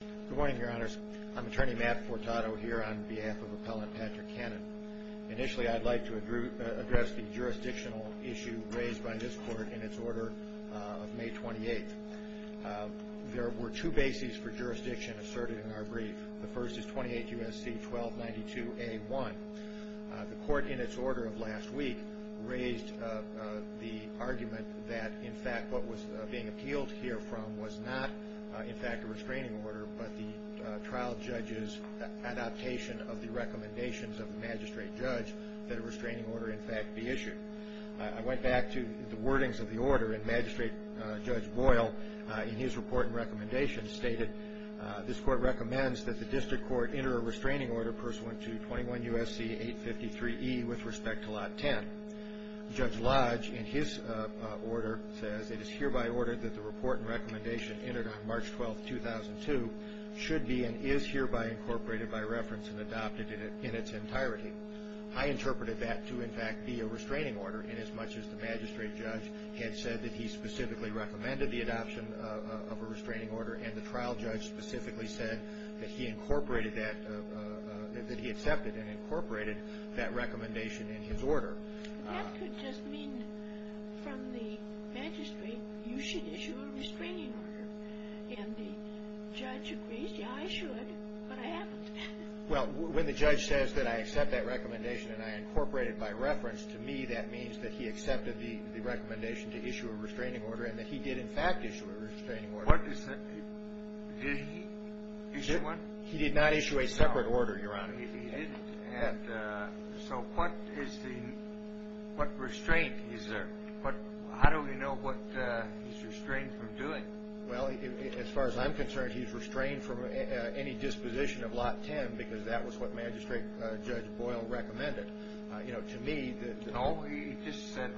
Good morning, your honors. I'm attorney Matt Fortato here on behalf of appellant Patrick Cannon. Initially, I'd like to address the jurisdictional issue raised by this court in its order of May 28th. There were two bases for jurisdiction asserted in our brief. The first is 28 U.S.C. 1292A1. The court in its order of last week raised the argument that, in fact, what was being appealed here from was not, in fact, a restraining order, but the trial judge's adaptation of the recommendations of the magistrate judge that a restraining order, in fact, be issued. I went back to the wordings of the order, and Magistrate Judge Boyle, in his report and recommendation, stated, this court recommends that the district court enter a restraining order pursuant to 21 U.S.C. 853E with respect to Lot 10. Judge Lodge, in his order, says, it is hereby ordered that the report and recommendation entered on March 12th, 2002, should be and is hereby incorporated by reference and adopted in its entirety. I interpreted that to, in fact, be a restraining order inasmuch as the magistrate judge had said that he specifically recommended the adoption of a restraining order and the trial judge specifically said that he incorporated that, that he accepted and incorporated that recommendation in his order. But that could just mean, from the magistrate, you should issue a restraining order. And the judge agrees, yeah, I should, but I haven't. Well, when the judge says that I accept that recommendation and I incorporate it by reference, to me that means that he accepted the recommendation to issue a restraining order and that he did, in fact, issue a restraining order. What is that? Did he issue one? He did not issue a separate order, Your Honor. So what is the, what restraint is there? How do we know what he's restrained from doing? Well, as far as I'm concerned, he's restrained from any disposition of Lot 10 because that was what Magistrate Judge Boyle recommended. You know, to me, the- No, he just said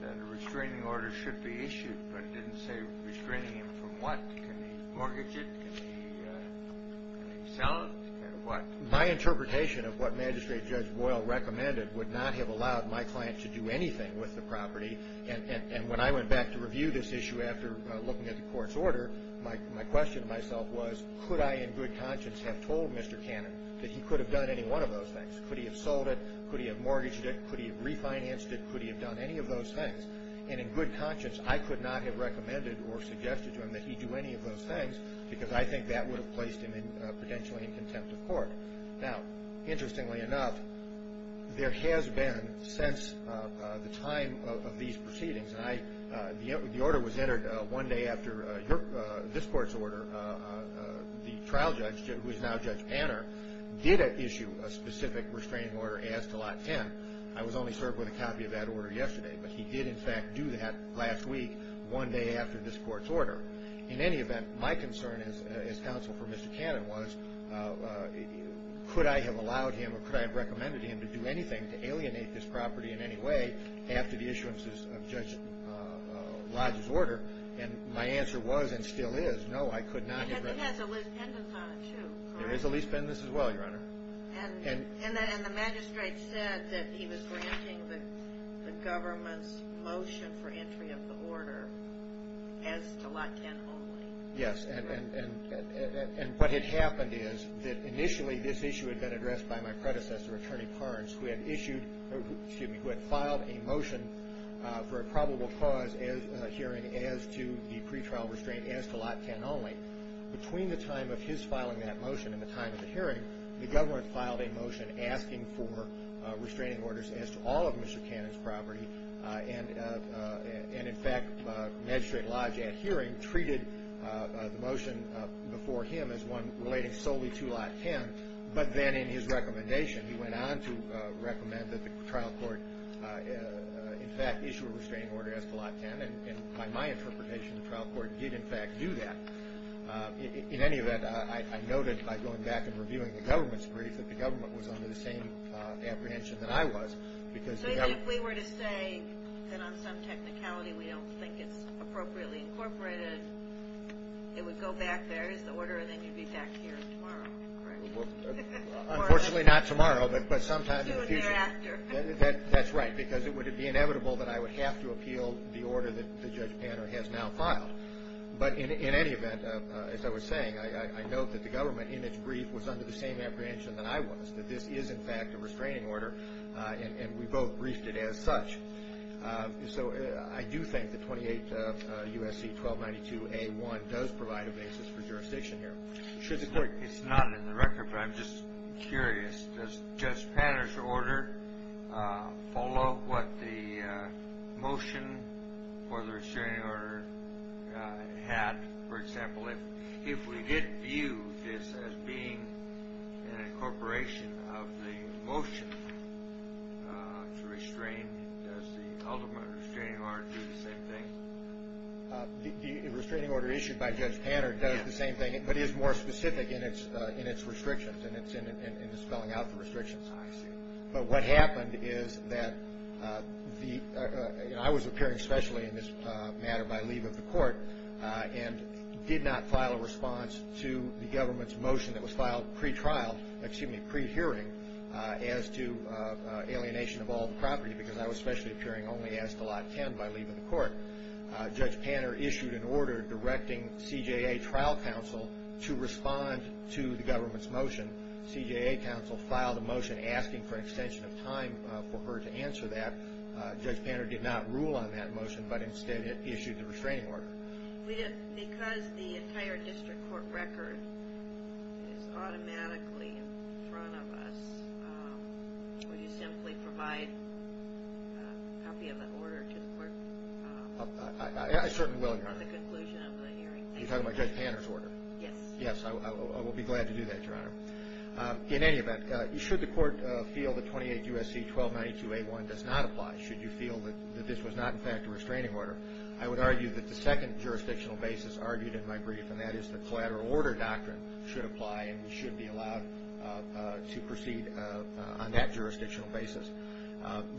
that a restraining order should be issued, but didn't say restraining him from what. Can he mortgage it? Can he sell it? What? My interpretation of what Magistrate Judge Boyle recommended would not have allowed my client to do anything with the property. And when I went back to review this issue after looking at the court's order, my question to myself was, could I in good conscience have told Mr. Cannon that he could have done any one of those things? Could he have sold it? Could he have mortgaged it? Could he have refinanced it? Could he have done any of those things? And in good conscience, I could not have recommended or suggested to him that he do any of those things because I think that would have placed him in, potentially, in contempt of court. Now, interestingly enough, there has been, since the time of these proceedings, and I, the order was entered one day after this court's order, the trial judge, who is now Judge Panner, did issue a specific restraining order as to Lot 10. I was only served with a copy of that order yesterday, but he did, in fact, do that last week, one day after this court's order. In any event, my concern as counsel for Mr. Cannon was, could I have allowed him or could I have recommended to him to do anything to alienate this property in any way after the issuances of Judge Lodge's order? And my answer was, and still is, no, I could not have recommended. Because it has a lease pendant on it, too. There is a lease pendant as well, Your Honor. And the magistrate said that he was granting the government's motion for entry of the order as to Lot 10 only. Yes, and what had happened is that initially this issue had been addressed by my predecessor, Attorney Parnes, who had filed a motion for a probable cause hearing as to the pretrial restraint as to Lot 10 only. Between the time of his filing that motion and the time of the hearing, the government filed a motion asking for restraining orders as to all of Mr. Cannon's property. And, in fact, Magistrate Lodge, at hearing, treated the motion before him as one relating solely to Lot 10. But then in his recommendation, he went on to recommend that the trial court, in fact, issue a restraining order as to Lot 10. And by my interpretation, the trial court did, in fact, do that. In any event, I noted, by going back and reviewing the government's brief, that the government was under the same apprehension that I was. So you think if we were to say that on some technicality we don't think it's appropriately incorporated, it would go back, there is the order, and then you'd be back here tomorrow, correct? Unfortunately, not tomorrow, but sometime in the future. Soon thereafter. That's right, because it would be inevitable that I would have to appeal the order that Judge Panner has now filed. But in any event, as I was saying, I note that the government, in its brief, was under the same apprehension that I was, that this is, in fact, a restraining order, and we both briefed it as such. So I do think that 28 U.S.C. 1292A1 does provide a basis for jurisdiction here. It's not in the record, but I'm just curious. Does Judge Panner's order follow what the motion for the restraining order had? For example, if we did view this as being an incorporation of the motion to restrain, does the ultimate restraining order do the same thing? The restraining order issued by Judge Panner does the same thing, but is more specific in its restrictions and its spelling out the restrictions. I see. But what happened is that I was appearing specially in this matter by leave of the court and did not file a response to the government's motion that was filed pre-trial, excuse me, pre-hearing as to alienation of all the property, because I was specially appearing only as to Lot 10 by leave of the court. Judge Panner issued an order directing CJA trial counsel to respond to the government's motion. CJA counsel filed a motion asking for an extension of time for her to answer that. Judge Panner did not rule on that motion, but instead issued the restraining order. Because the entire district court record is automatically in front of us, would you simply provide a copy of that order to the court? I certainly will, Your Honor. At the conclusion of the hearing. You're talking about Judge Panner's order? Yes. Yes, I will be glad to do that, Your Honor. In any event, should the court feel that 28 U.S.C. 1292-A1 does not apply, should you feel that this was not, in fact, a restraining order, I would argue that the second jurisdictional basis argued in my brief, and that is the collateral order doctrine should apply and we should be allowed to proceed on that jurisdictional basis.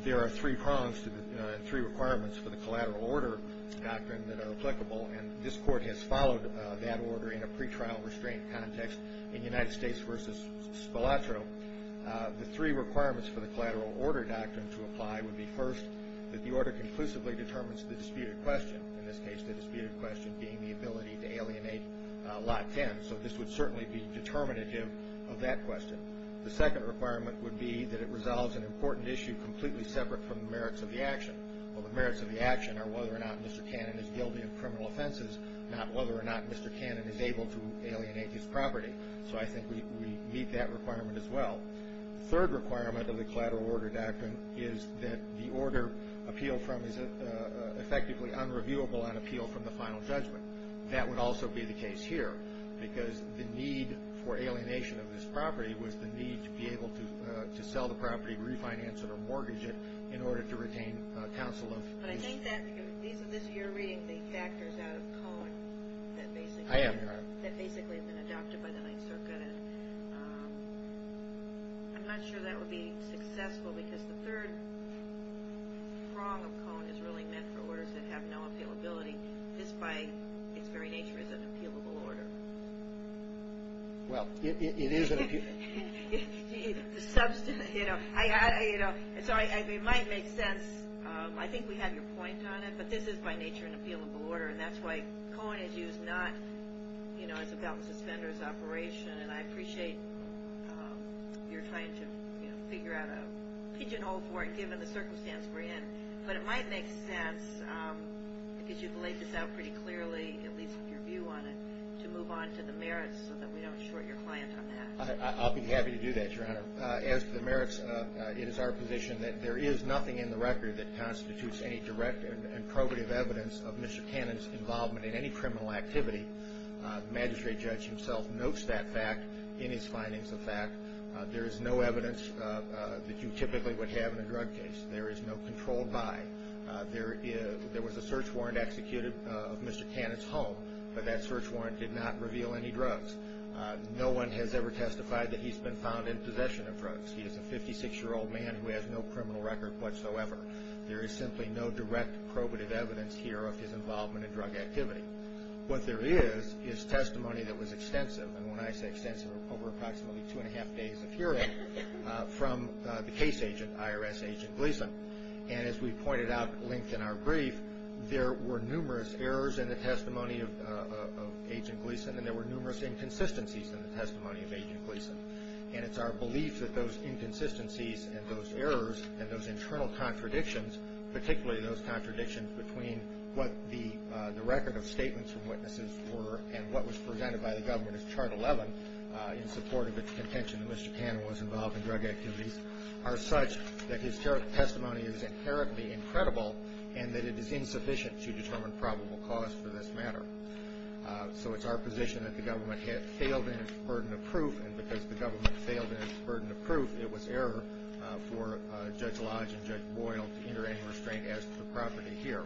There are three prongs and three requirements for the collateral order doctrine that are applicable, and this court has followed that order in a pretrial restraint context in United States v. Spolatro. The three requirements for the collateral order doctrine to apply would be, first, that the order conclusively determines the disputed question, in this case, the disputed question being the ability to alienate Lot 10. So this would certainly be determinative of that question. The second requirement would be that it resolves an important issue completely separate from the merits of the action. Well, the merits of the action are whether or not Mr. Cannon is guilty of criminal offenses, not whether or not Mr. Cannon is able to alienate his property. So I think we meet that requirement as well. The third requirement of the collateral order doctrine is that the order appealed from is effectively unreviewable on appeal from the final judgment. That would also be the case here because the need for alienation of this property was the need to be able to sell the property, refinance it, or mortgage it in order to retain counsel of the court. But I think that, because you're reading the factors out of Cohen that basically have been adopted by the Ninth Circuit. I'm not sure that would be successful because the third prong of Cohen is really meant for orders that have no appealability. This, by its very nature, is an appealable order. Well, it is an appealable order. So it might make sense. I think we have your point on it, but this is, by nature, an appealable order, and that's why Cohen is used not as a belt and suspenders operation, and I appreciate your trying to figure out a pigeonhole for it given the circumstance we're in. But it might make sense, because you've laid this out pretty clearly, at least with your view on it, to move on to the merits so that we don't short your client on that. I'll be happy to do that, Your Honor. As to the merits, it is our position that there is nothing in the record that constitutes any direct and probative evidence of Mr. Cannon's involvement in any criminal activity. The magistrate judge himself notes that fact in his findings of fact. There is no evidence that you typically would have in a drug case. There is no controlled by. There was a search warrant executed of Mr. Cannon's home, but that search warrant did not reveal any drugs. No one has ever testified that he's been found in possession of drugs. He is a 56-year-old man who has no criminal record whatsoever. There is simply no direct probative evidence here of his involvement in drug activity. What there is is testimony that was extensive, and when I say extensive, over approximately two and a half days of hearing from the case agent, IRS Agent Gleason. And as we pointed out at length in our brief, there were numerous errors in the testimony of Agent Gleason, and there were numerous inconsistencies in the testimony of Agent Gleason. And it's our belief that those inconsistencies and those errors and those internal contradictions, particularly those contradictions between what the record of statements from witnesses were and what was presented by the government as chart 11 in support of its contention that Mr. Cannon was involved in drug activities, are such that his testimony is inherently incredible and that it is insufficient to determine probable cause for this matter. So it's our position that the government had failed in its burden of proof, and because the government failed in its burden of proof, it was error for Judge Lodge and Judge Boyle to enter any restraint as to the property here.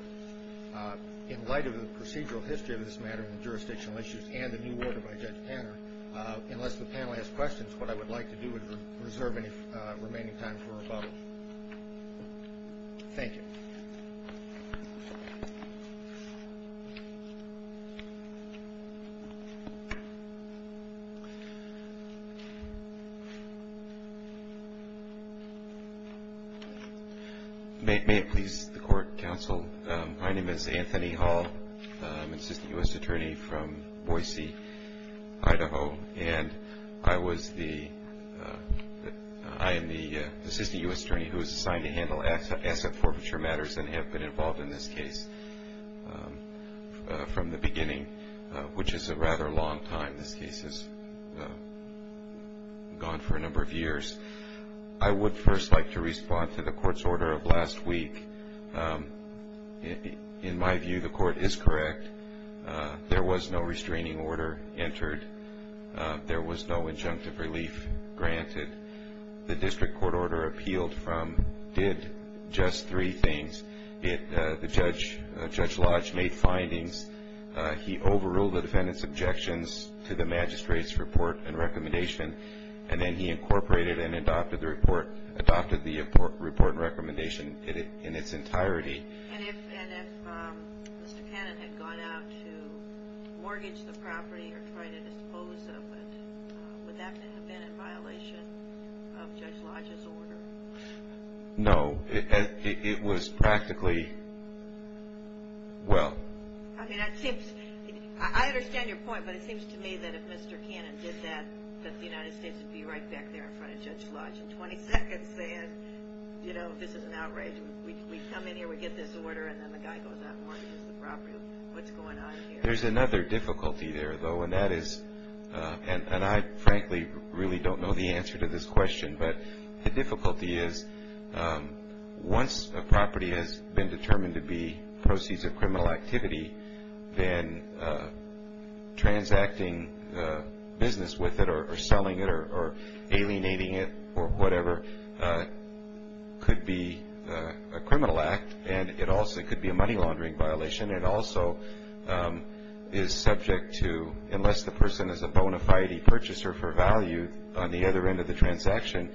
In light of the procedural history of this matter and the jurisdictional issues and the new order by Judge Tanner, unless the panel has questions, what I would like to do is reserve any remaining time for rebuttal. Thank you. May it please the Court, Counsel. My name is Anthony Hall. I'm Assistant U.S. Attorney from Boise, Idaho, and I am the Assistant U.S. Attorney who is assigned to handle asset forfeiture matters and have been involved in this case from the beginning, which is a rather long time. This case has gone for a number of years. I would first like to respond to the Court's order of last week. In my view, the Court is correct. There was no restraining order entered. There was no injunctive relief granted. The district court order appealed from did just three things. The Judge Lodge made findings. He overruled the defendant's objections to the magistrate's report and recommendation, and then he incorporated and adopted the report and recommendation in its entirety. And if Mr. Cannon had gone out to mortgage the property or try to dispose of it, would that have been in violation of Judge Lodge's order? No. It was practically well. I mean, I understand your point, but it seems to me that if Mr. Cannon did that, that the United States would be right back there in front of Judge Lodge in 20 seconds saying, you know, this is an outrage. We come in here, we get this order, and then the guy goes out and mortgages the property. What's going on here? There's another difficulty there, though, and that is, and I frankly really don't know the answer to this question, but the difficulty is once a property has been determined to be proceeds of criminal activity, then transacting business with it or selling it or alienating it or whatever could be a criminal act, and it also could be a money laundering violation. It also is subject to, unless the person is a bona fide purchaser for value on the other end of the transaction,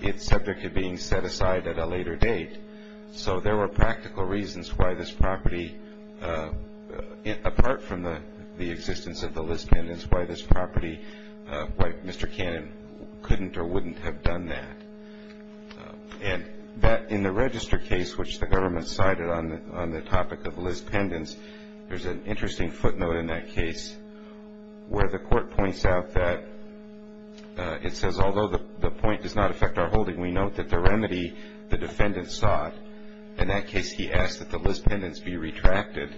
it's subject to being set aside at a later date. So there were practical reasons why this property, apart from the existence of the Liz pendants, why this property, why Mr. Cannon couldn't or wouldn't have done that. And in the register case, which the government cited on the topic of Liz pendants, there's an interesting footnote in that case where the court points out that it says, although the point does not affect our holding, we note that the remedy the defendant sought, in that case he asked that the Liz pendants be retracted,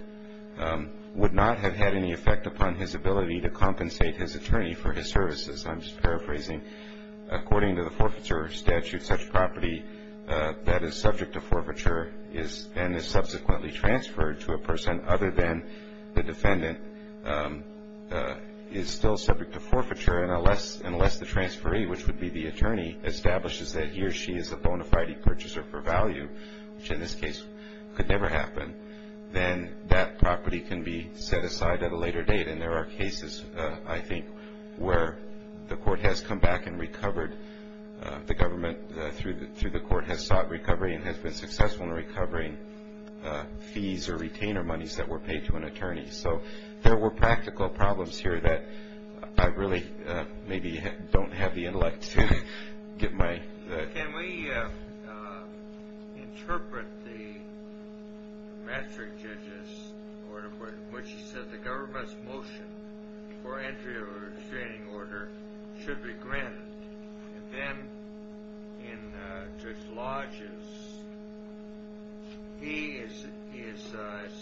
would not have had any effect upon his ability to compensate his attorney for his services. I'm just paraphrasing. According to the forfeiture statute, such property that is subject to forfeiture and is subsequently transferred to a person other than the defendant is still subject to forfeiture and unless the transferee, which would be the attorney, establishes that he or she is a bona fide purchaser for value, which in this case could never happen, then that property can be set aside at a later date. And there are cases, I think, where the court has come back and recovered, the government through the court has sought recovery and has been successful in recovering fees so there were practical problems here that I really maybe don't have the intellect to get my... Can we interpret the metric judge's order in which he said the government's motion for entry of a restraining order should be granted and then in Judge Lodge's, he is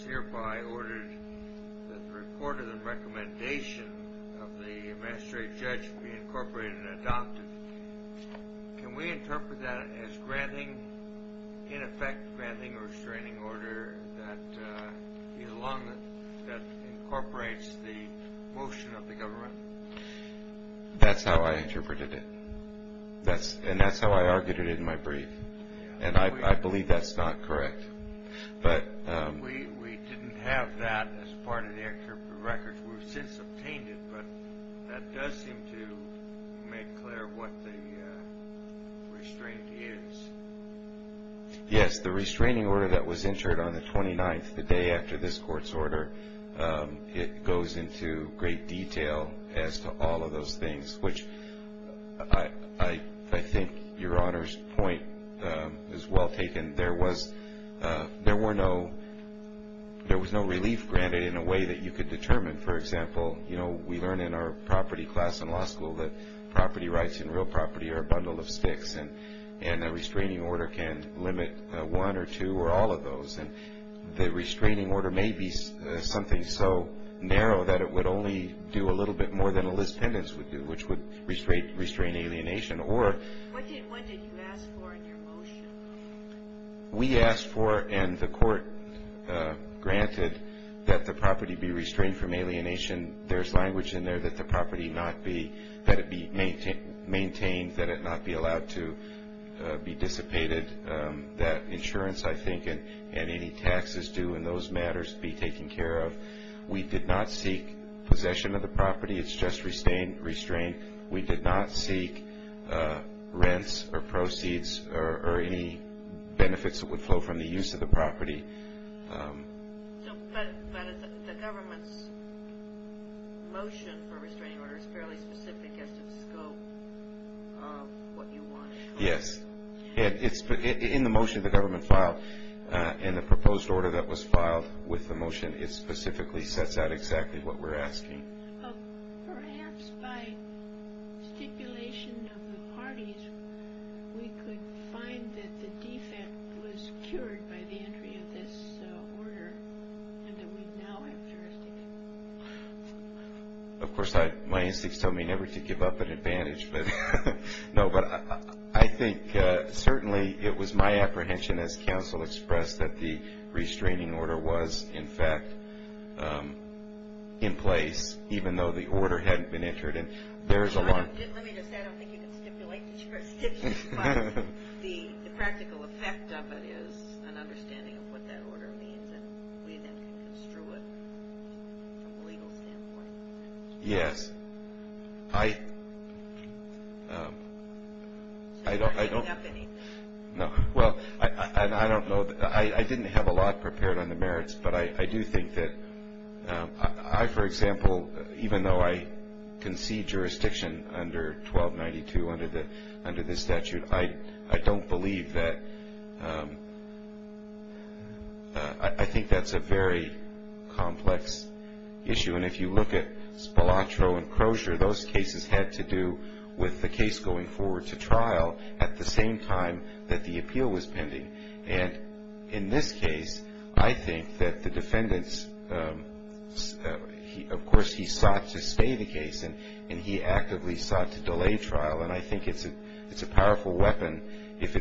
hereby ordered that the report of the recommendation of the magistrate judge be incorporated and adopted. Can we interpret that as granting, in effect, granting a restraining order that incorporates the motion of the government? That's how I interpreted it. And that's how I argued it in my brief. And I believe that's not correct. We didn't have that as part of the record. We've since obtained it, but that does seem to make clear what the restraint is. Yes, the restraining order that was entered on the 29th, the day after this court's order, it goes into great detail as to all of those things, which I think Your Honor's point is well taken. There was no relief granted in a way that you could determine. For example, we learn in our property class in law school that property rights in real property are a bundle of sticks and a restraining order can limit one or two or all of those. And the restraining order may be something so narrow that it would only do a little bit more than a list pendant, which would restrain alienation. What did you ask for in your motion? We asked for and the court granted that the property be restrained from alienation. There's language in there that the property not be, that it be maintained, that it not be allowed to be dissipated. That insurance, I think, and any taxes due in those matters be taken care of. We did not seek possession of the property. It's just restrained. We did not seek rents or proceeds or any benefits that would flow from the use of the property. But the government's motion for a restraining order is fairly specific as to the scope of what you want. Yes. In the motion the government filed and the proposed order that was filed with the motion, it specifically sets out exactly what we're asking. Perhaps by stipulation of the parties, we could find that the defect was cured by the entry of this order and that we now have jurisdiction. Of course, my instincts tell me never to give up an advantage. No, but I think certainly it was my apprehension, as counsel expressed, that the restraining order was, in fact, in place, even though the order hadn't been entered. Let me just add, I don't think you can stipulate the jurisdiction, but the practical effect of it is an understanding of what that order means and we then can construe it from a legal standpoint. Yes. I don't know. No. Well, I don't know. I didn't have a lot prepared on the merits, but I do think that I, for example, even though I concede jurisdiction under 1292 under this statute, I don't believe that. I think that's a very complex issue. And if you look at Spalatro and Crozier, those cases had to do with the case going forward to trial at the same time that the appeal was pending. And in this case, I think that the defendants, of course, he sought to stay the case and he actively sought to delay trial, and I think it's a powerful weapon, if a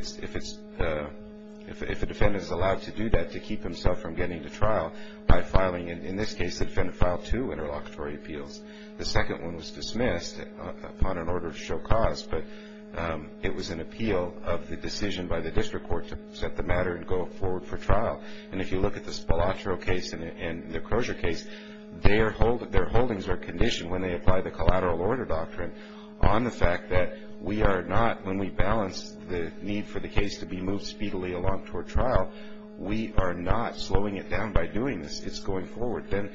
defendant is allowed to do that, to keep himself from getting to trial by filing, in this case, the defendant filed two interlocutory appeals. The second one was dismissed upon an order to show cause, but it was an appeal of the decision by the district court to set the matter and go forward for trial. And if you look at the Spalatro case and the Crozier case, their holdings are conditioned when they apply the collateral order doctrine on the fact that we are not, when we balance the need for the case to be moved speedily along toward trial, we are not slowing it down by doing this. If it's going forward, then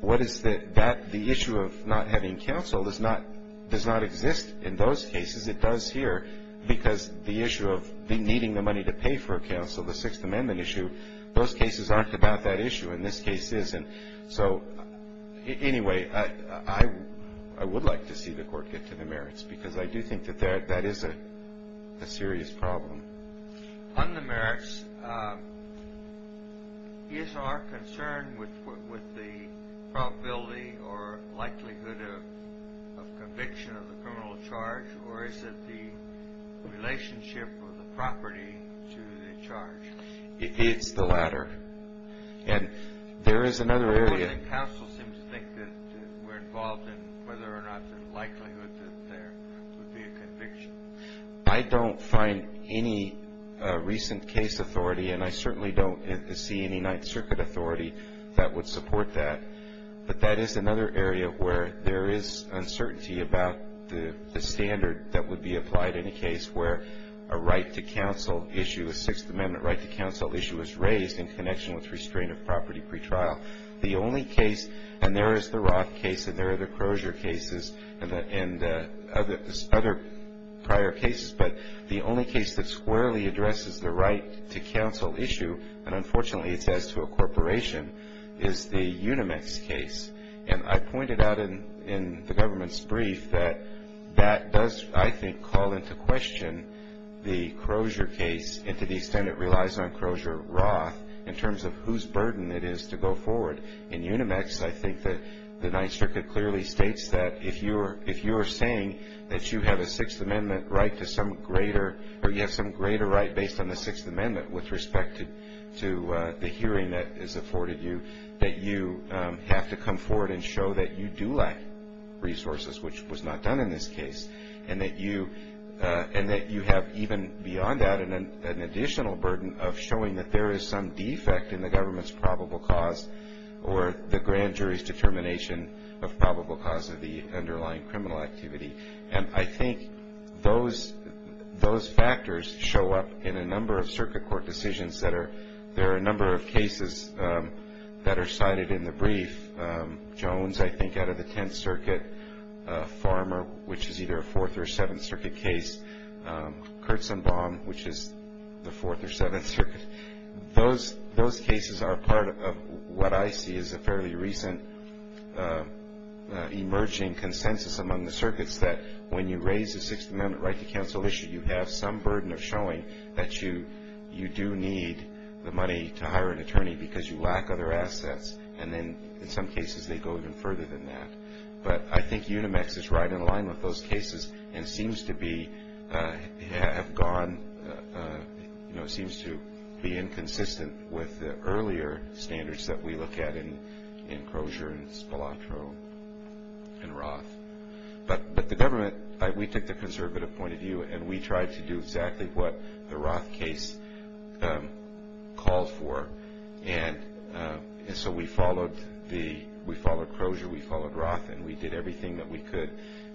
what is the issue of not having counsel does not exist in those cases. It does here because the issue of needing the money to pay for counsel, the Sixth Amendment issue, those cases aren't about that issue and this case isn't. So anyway, I would like to see the court get to the merits because I do think that that is a serious problem. On the merits, is our concern with the probability or likelihood of conviction of the criminal charge or is it the relationship of the property to the charge? It's the latter. And there is another area. The court and counsel seem to think that we're involved in whether or not the likelihood that there would be a conviction. I don't find any recent case authority, and I certainly don't see any Ninth Circuit authority that would support that. But that is another area where there is uncertainty about the standard that would be applied in a case where a right to counsel issue, a Sixth Amendment right to counsel issue is raised in connection with restraint of property pretrial. The only case, and there is the Roth case and there are the Crozier cases and other prior cases, but the only case that squarely addresses the right to counsel issue, and unfortunately it's as to a corporation, is the Unimex case. And I pointed out in the government's brief that that does, I think, call into question the Crozier case and to the extent it relies on Crozier-Roth in terms of whose burden it is to go forward. In Unimex, I think that the Ninth Circuit clearly states that if you are saying that you have a Sixth Amendment right to some greater, or you have some greater right based on the Sixth Amendment with respect to the hearing that is afforded you, that you have to come forward and show that you do lack resources, which was not done in this case, and that you have even beyond that an additional burden of showing that there is some defect in the government's probable cause or the grand jury's determination of probable cause of the underlying criminal activity. And I think those factors show up in a number of circuit court decisions that are, there are a number of cases that are cited in the brief. Jones, I think, out of the Tenth Circuit. Farmer, which is either a Fourth or Seventh Circuit case. Kurtzenbaum, which is the Fourth or Seventh Circuit. Those cases are part of what I see as a fairly recent emerging consensus among the circuits that when you raise a Sixth Amendment right to counsel issue, you have some burden of showing that you do need the money to hire an attorney because you lack other assets. And then in some cases they go even further than that. But I think Unimex is right in line with those cases and seems to be, have gone, you know, seems to be inconsistent with the earlier standards that we look at in Crozier and Spilotro and Roth. But the government, we took the conservative point of view, and we tried to do exactly what the Roth case called for. And so we followed the, we followed Crozier, we followed Roth, and we did everything that we could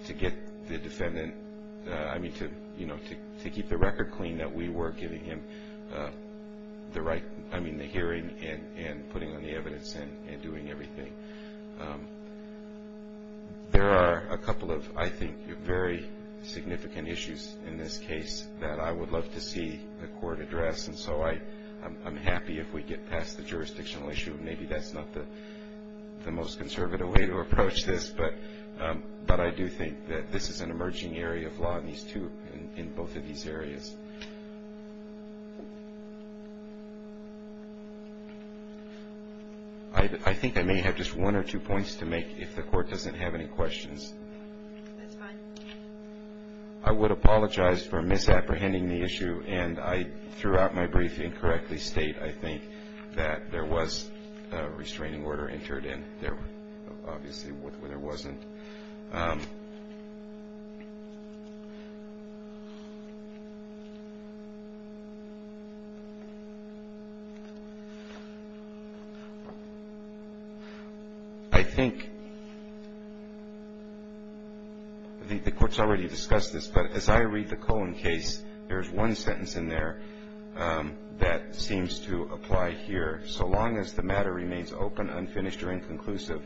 to get the defendant, I mean, to, you know, to keep the record clean that we were giving him the right, I mean, the hearing and putting on the evidence and doing everything. There are a couple of, I think, very significant issues in this case that I would love to see the court address. And so I'm happy if we get past the jurisdictional issue. Maybe that's not the most conservative way to approach this, but I do think that this is an emerging area of law in these two, in both of these areas. I think I may have just one or two points to make if the court doesn't have any questions. That's fine. I would apologize for misapprehending the issue, and I, throughout my briefing, correctly state, I think, that there was a restraining order entered, and there obviously wasn't. I think the court's already discussed this, but as I read the Cohen case, there's one sentence in there that seems to apply here. So long as the matter remains open, unfinished, or inconclusive,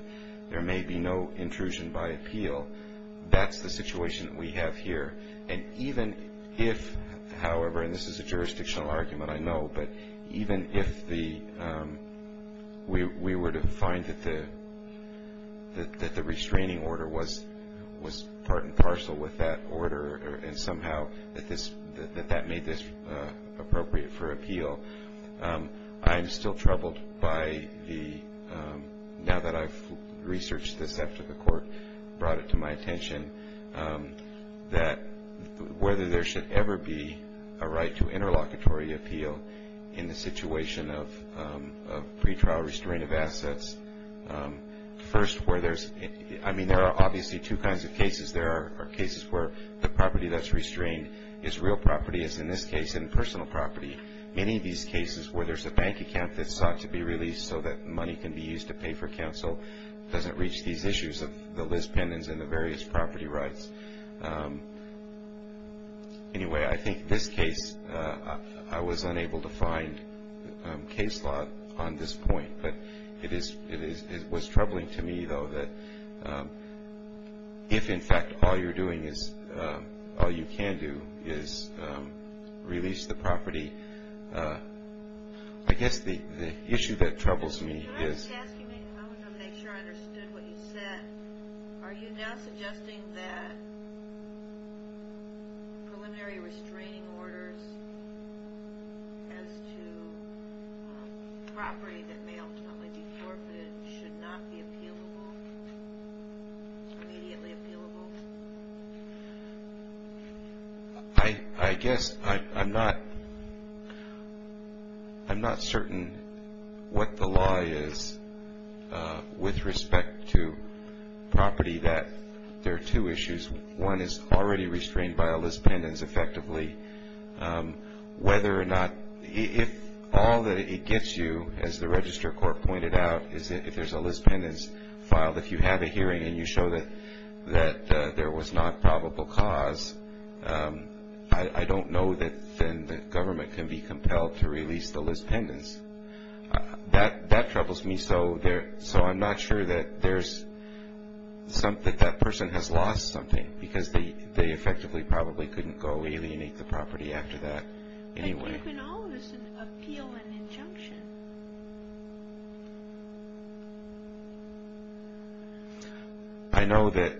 that's the situation that we have here. And even if, however, and this is a jurisdictional argument, I know, but even if we were to find that the restraining order was part and parcel with that order and somehow that that made this appropriate for appeal, I'm still troubled by the, now that I've researched this after the court brought it to my attention, that whether there should ever be a right to interlocutory appeal in the situation of pretrial restraining of assets. First, where there's, I mean, there are obviously two kinds of cases. There are cases where the property that's restrained is real property, as in this case, impersonal property. Many of these cases where there's a bank account that's sought to be released so that money can be used to pay for counsel doesn't reach these issues of the Liz Pendens and the various property rights. Anyway, I think this case, I was unable to find case law on this point. But it was troubling to me, though, that if, in fact, all you're doing is, all you can do is release the property, I guess the issue that troubles me is- I guess I'm not certain what the law is with respect to property that there are two issues. One is already restrained by a Liz Pendens effectively. Whether or not, if all that it gets you, as the Register Court pointed out, is that if there's a Liz Pendens filed, if you have a hearing and you show that there was not probable cause, I don't know that then the government can be compelled to release the Liz Pendens. That troubles me. So I'm not sure that that person has lost something because they effectively probably couldn't go alienate the property after that anyway. But you can always appeal an injunction. I know that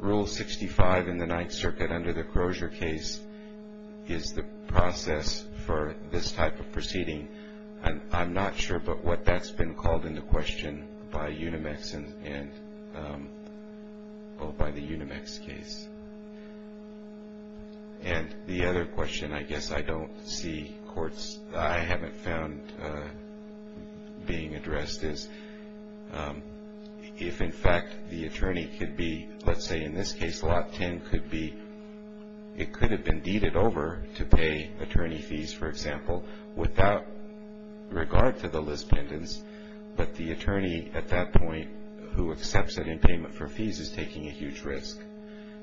Rule 65 in the Ninth Circuit under the Crozier case is the process for this type of proceeding. I'm not sure but what that's been called into question by Unimex and by the Unimex case. And the other question I guess I don't see courts- I haven't found being addressed is if, in fact, the attorney could be- let's say in this case Lot 10 could be- it could have been deeded over to pay attorney fees, for example, without regard to the Liz Pendens. But the attorney at that point who accepts it in payment for fees is taking a huge risk.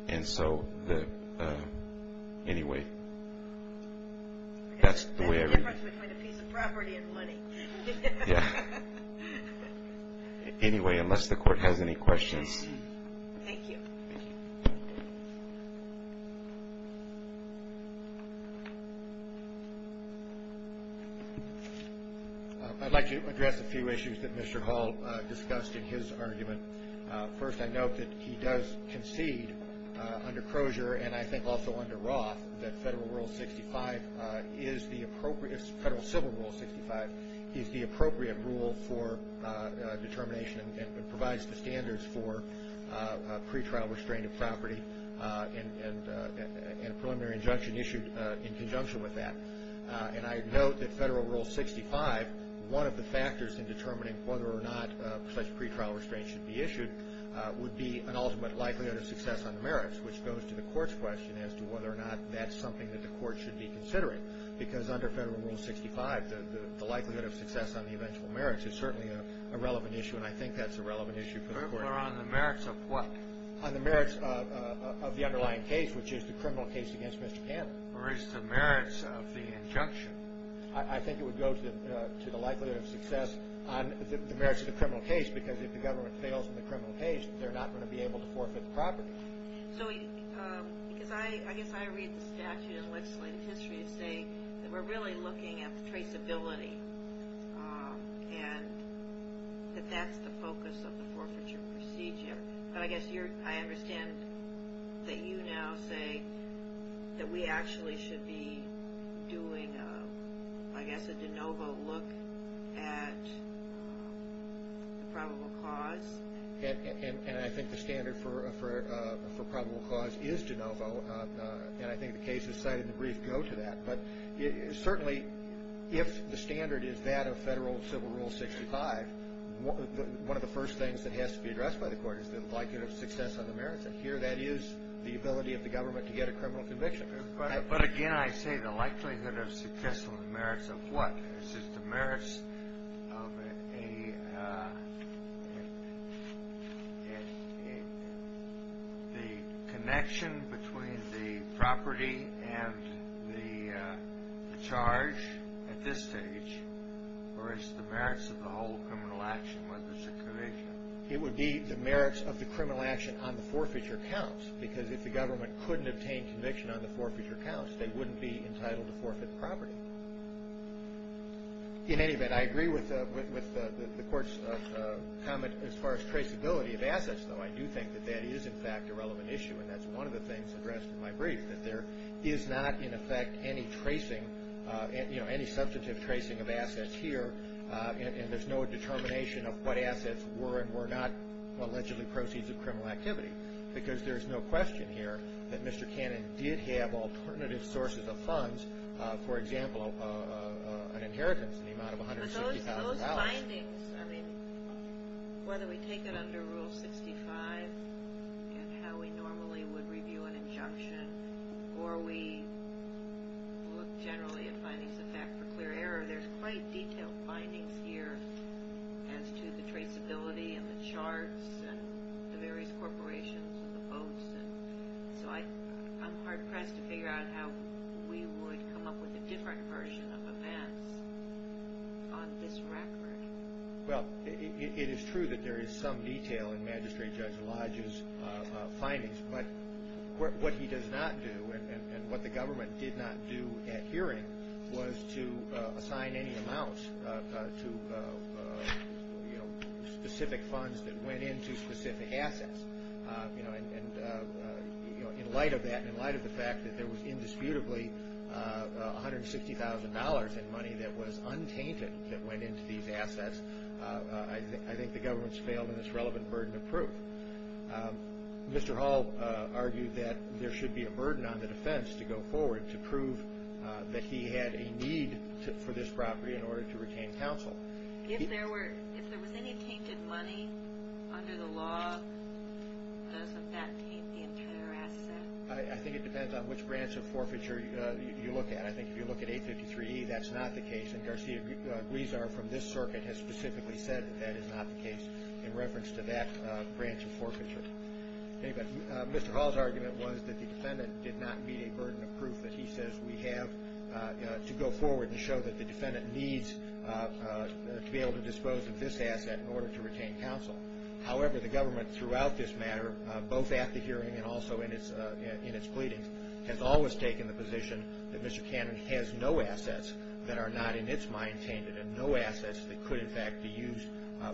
And so the- anyway. That's the way I read it. That's the difference between a piece of property and money. Yeah. Anyway, unless the Court has any questions. Thank you. I'd like to address a few issues that Mr. Hall discussed in his argument. First, I note that he does concede under Crozier and I think also under Roth that Federal Rule 65 is the appropriate- Federal Civil Rule 65 is the appropriate rule for determination and provides the standards for pretrial restrained property and a preliminary injunction issued in conjunction with that. And I note that Federal Rule 65, one of the factors in determining whether or not such pretrial restraints should be issued, would be an ultimate likelihood of success on the merits, which goes to the Court's question as to whether or not that's something that the Court should be considering. Because under Federal Rule 65, the likelihood of success on the eventual merits is certainly a relevant issue and I think that's a relevant issue for the Court. But on the merits of what? On the merits of the underlying case, which is the criminal case against Mr. Cannon. Or is the merits of the injunction? I think it would go to the likelihood of success on the merits of the criminal case because if the government fails in the criminal case, they're not going to be able to forfeit the property. So, because I guess I read the statute in legislative history to say that we're really looking at the traceability and that that's the focus of the forfeiture procedure. But I guess I understand that you now say that we actually should be doing, I guess, a de novo look at the probable cause. And I think the standard for probable cause is de novo, and I think the cases cited in the brief go to that. But certainly, if the standard is that of Federal Civil Rule 65, one of the first things that has to be addressed by the Court is the likelihood of success on the merits. And here that is the ability of the government to get a criminal conviction. But again, I say the likelihood of success on the merits of what? Is it the merits of the connection between the property and the charge at this stage? Or is it the merits of the whole criminal action, whether it's a conviction? It would be the merits of the criminal action on the forfeiture counts because if the government couldn't obtain conviction on the forfeiture counts, they wouldn't be entitled to forfeit the property. In any event, I agree with the Court's comment as far as traceability of assets, though. I do think that that is, in fact, a relevant issue, and that's one of the things addressed in my brief, that there is not, in effect, any substantive tracing of assets here, and there's no determination of what assets were and were not allegedly proceeds of criminal activity because there's no question here that Mr. Cannon did have alternative sources of funds, for example, an inheritance in the amount of $160,000. Those findings, whether we take it under Rule 65 and how we normally would review an injunction, or we look generally at findings of fact for clear error, there's quite detailed findings here as to the traceability and the charts and the various corporations and the boats. So I'm hard-pressed to figure out how we would come up with a different version of events on this record. Well, it is true that there is some detail in Magistrate Judge Lodge's findings, but what he does not do, and what the government did not do at hearing, was to assign any amounts to specific funds that went into specific assets. And in light of that, in light of the fact that there was indisputably $160,000 in money that was untainted that went into these assets, I think the government's failed in this relevant burden of proof. Mr. Hall argued that there should be a burden on the defense to go forward to prove that he had a need for this property in order to retain counsel. If there was any tainted money under the law, doesn't that taint the entire asset? I think it depends on which branch of forfeiture you look at. I think if you look at 853E, that's not the case, and Garcia Guizar from this circuit has specifically said that that is not the case in reference to that branch of forfeiture. Anyway, Mr. Hall's argument was that the defendant did not meet a burden of proof that he says we have to go forward and show that the defendant needs to be able to dispose of this asset in order to retain counsel. However, the government throughout this matter, both at the hearing and also in its pleadings, has always taken the position that Mr. Cannon has no assets that are not in its mind tainted and no assets that could, in fact, be used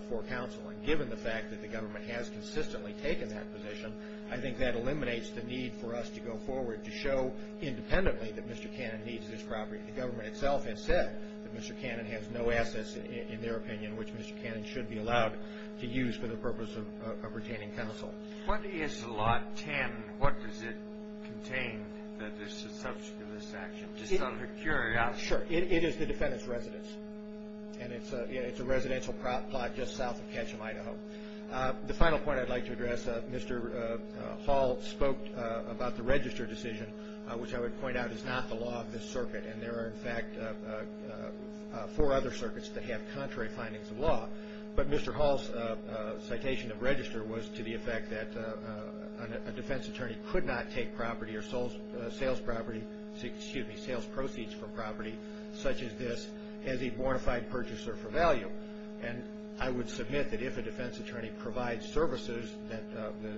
for counsel. And given the fact that the government has consistently taken that position, I think that eliminates the need for us to go forward to show independently that Mr. Cannon needs this property. The government itself has said that Mr. Cannon has no assets, in their opinion, which Mr. Cannon should be allowed to use for the purpose of retaining counsel. What is Lot 10? What does it contain that is the subject of this action? Just out of curiosity. Sure. It is the defendant's residence, and it's a residential plot just south of Ketcham, Idaho. The final point I'd like to address, Mr. Hall spoke about the register decision, which I would point out is not the law of this circuit. And there are, in fact, four other circuits that have contrary findings of law. But Mr. Hall's citation of register was to the effect that a defense attorney could not take property or sales proceeds from property such as this as a bona fide purchaser for value. And I would submit that if a defense attorney provides services that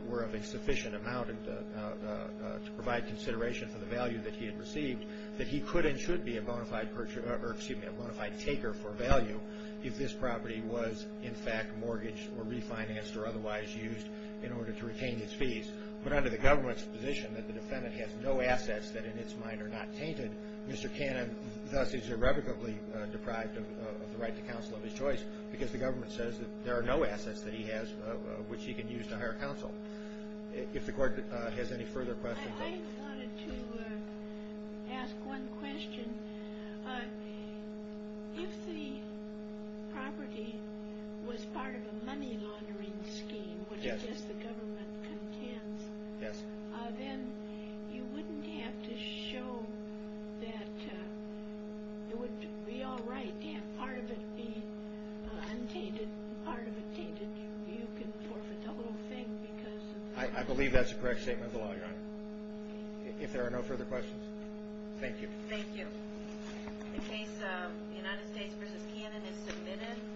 were of a sufficient amount to provide consideration for the value that he had received, that he could and should be a bona fide purchaser or, excuse me, a bona fide taker for value if this property was, in fact, mortgaged or refinanced or otherwise used in order to retain his fees. But under the government's position that the defendant has no assets that in its mind are not tainted, Mr. Cannon thus is irrevocably deprived of the right to counsel of his choice because the government says that there are no assets that he has which he can use to hire counsel. If the court has any further questions. I wanted to ask one question. If the property was part of a money laundering scheme, which it is the government contends, then you wouldn't have to show that it would be all right to have part of it be untainted and part of it tainted. You can forfeit the whole thing because... I believe that's a correct statement of the law, Your Honor. If there are no further questions. Thank you. Thank you. In case the United States v. Cannon is submitted...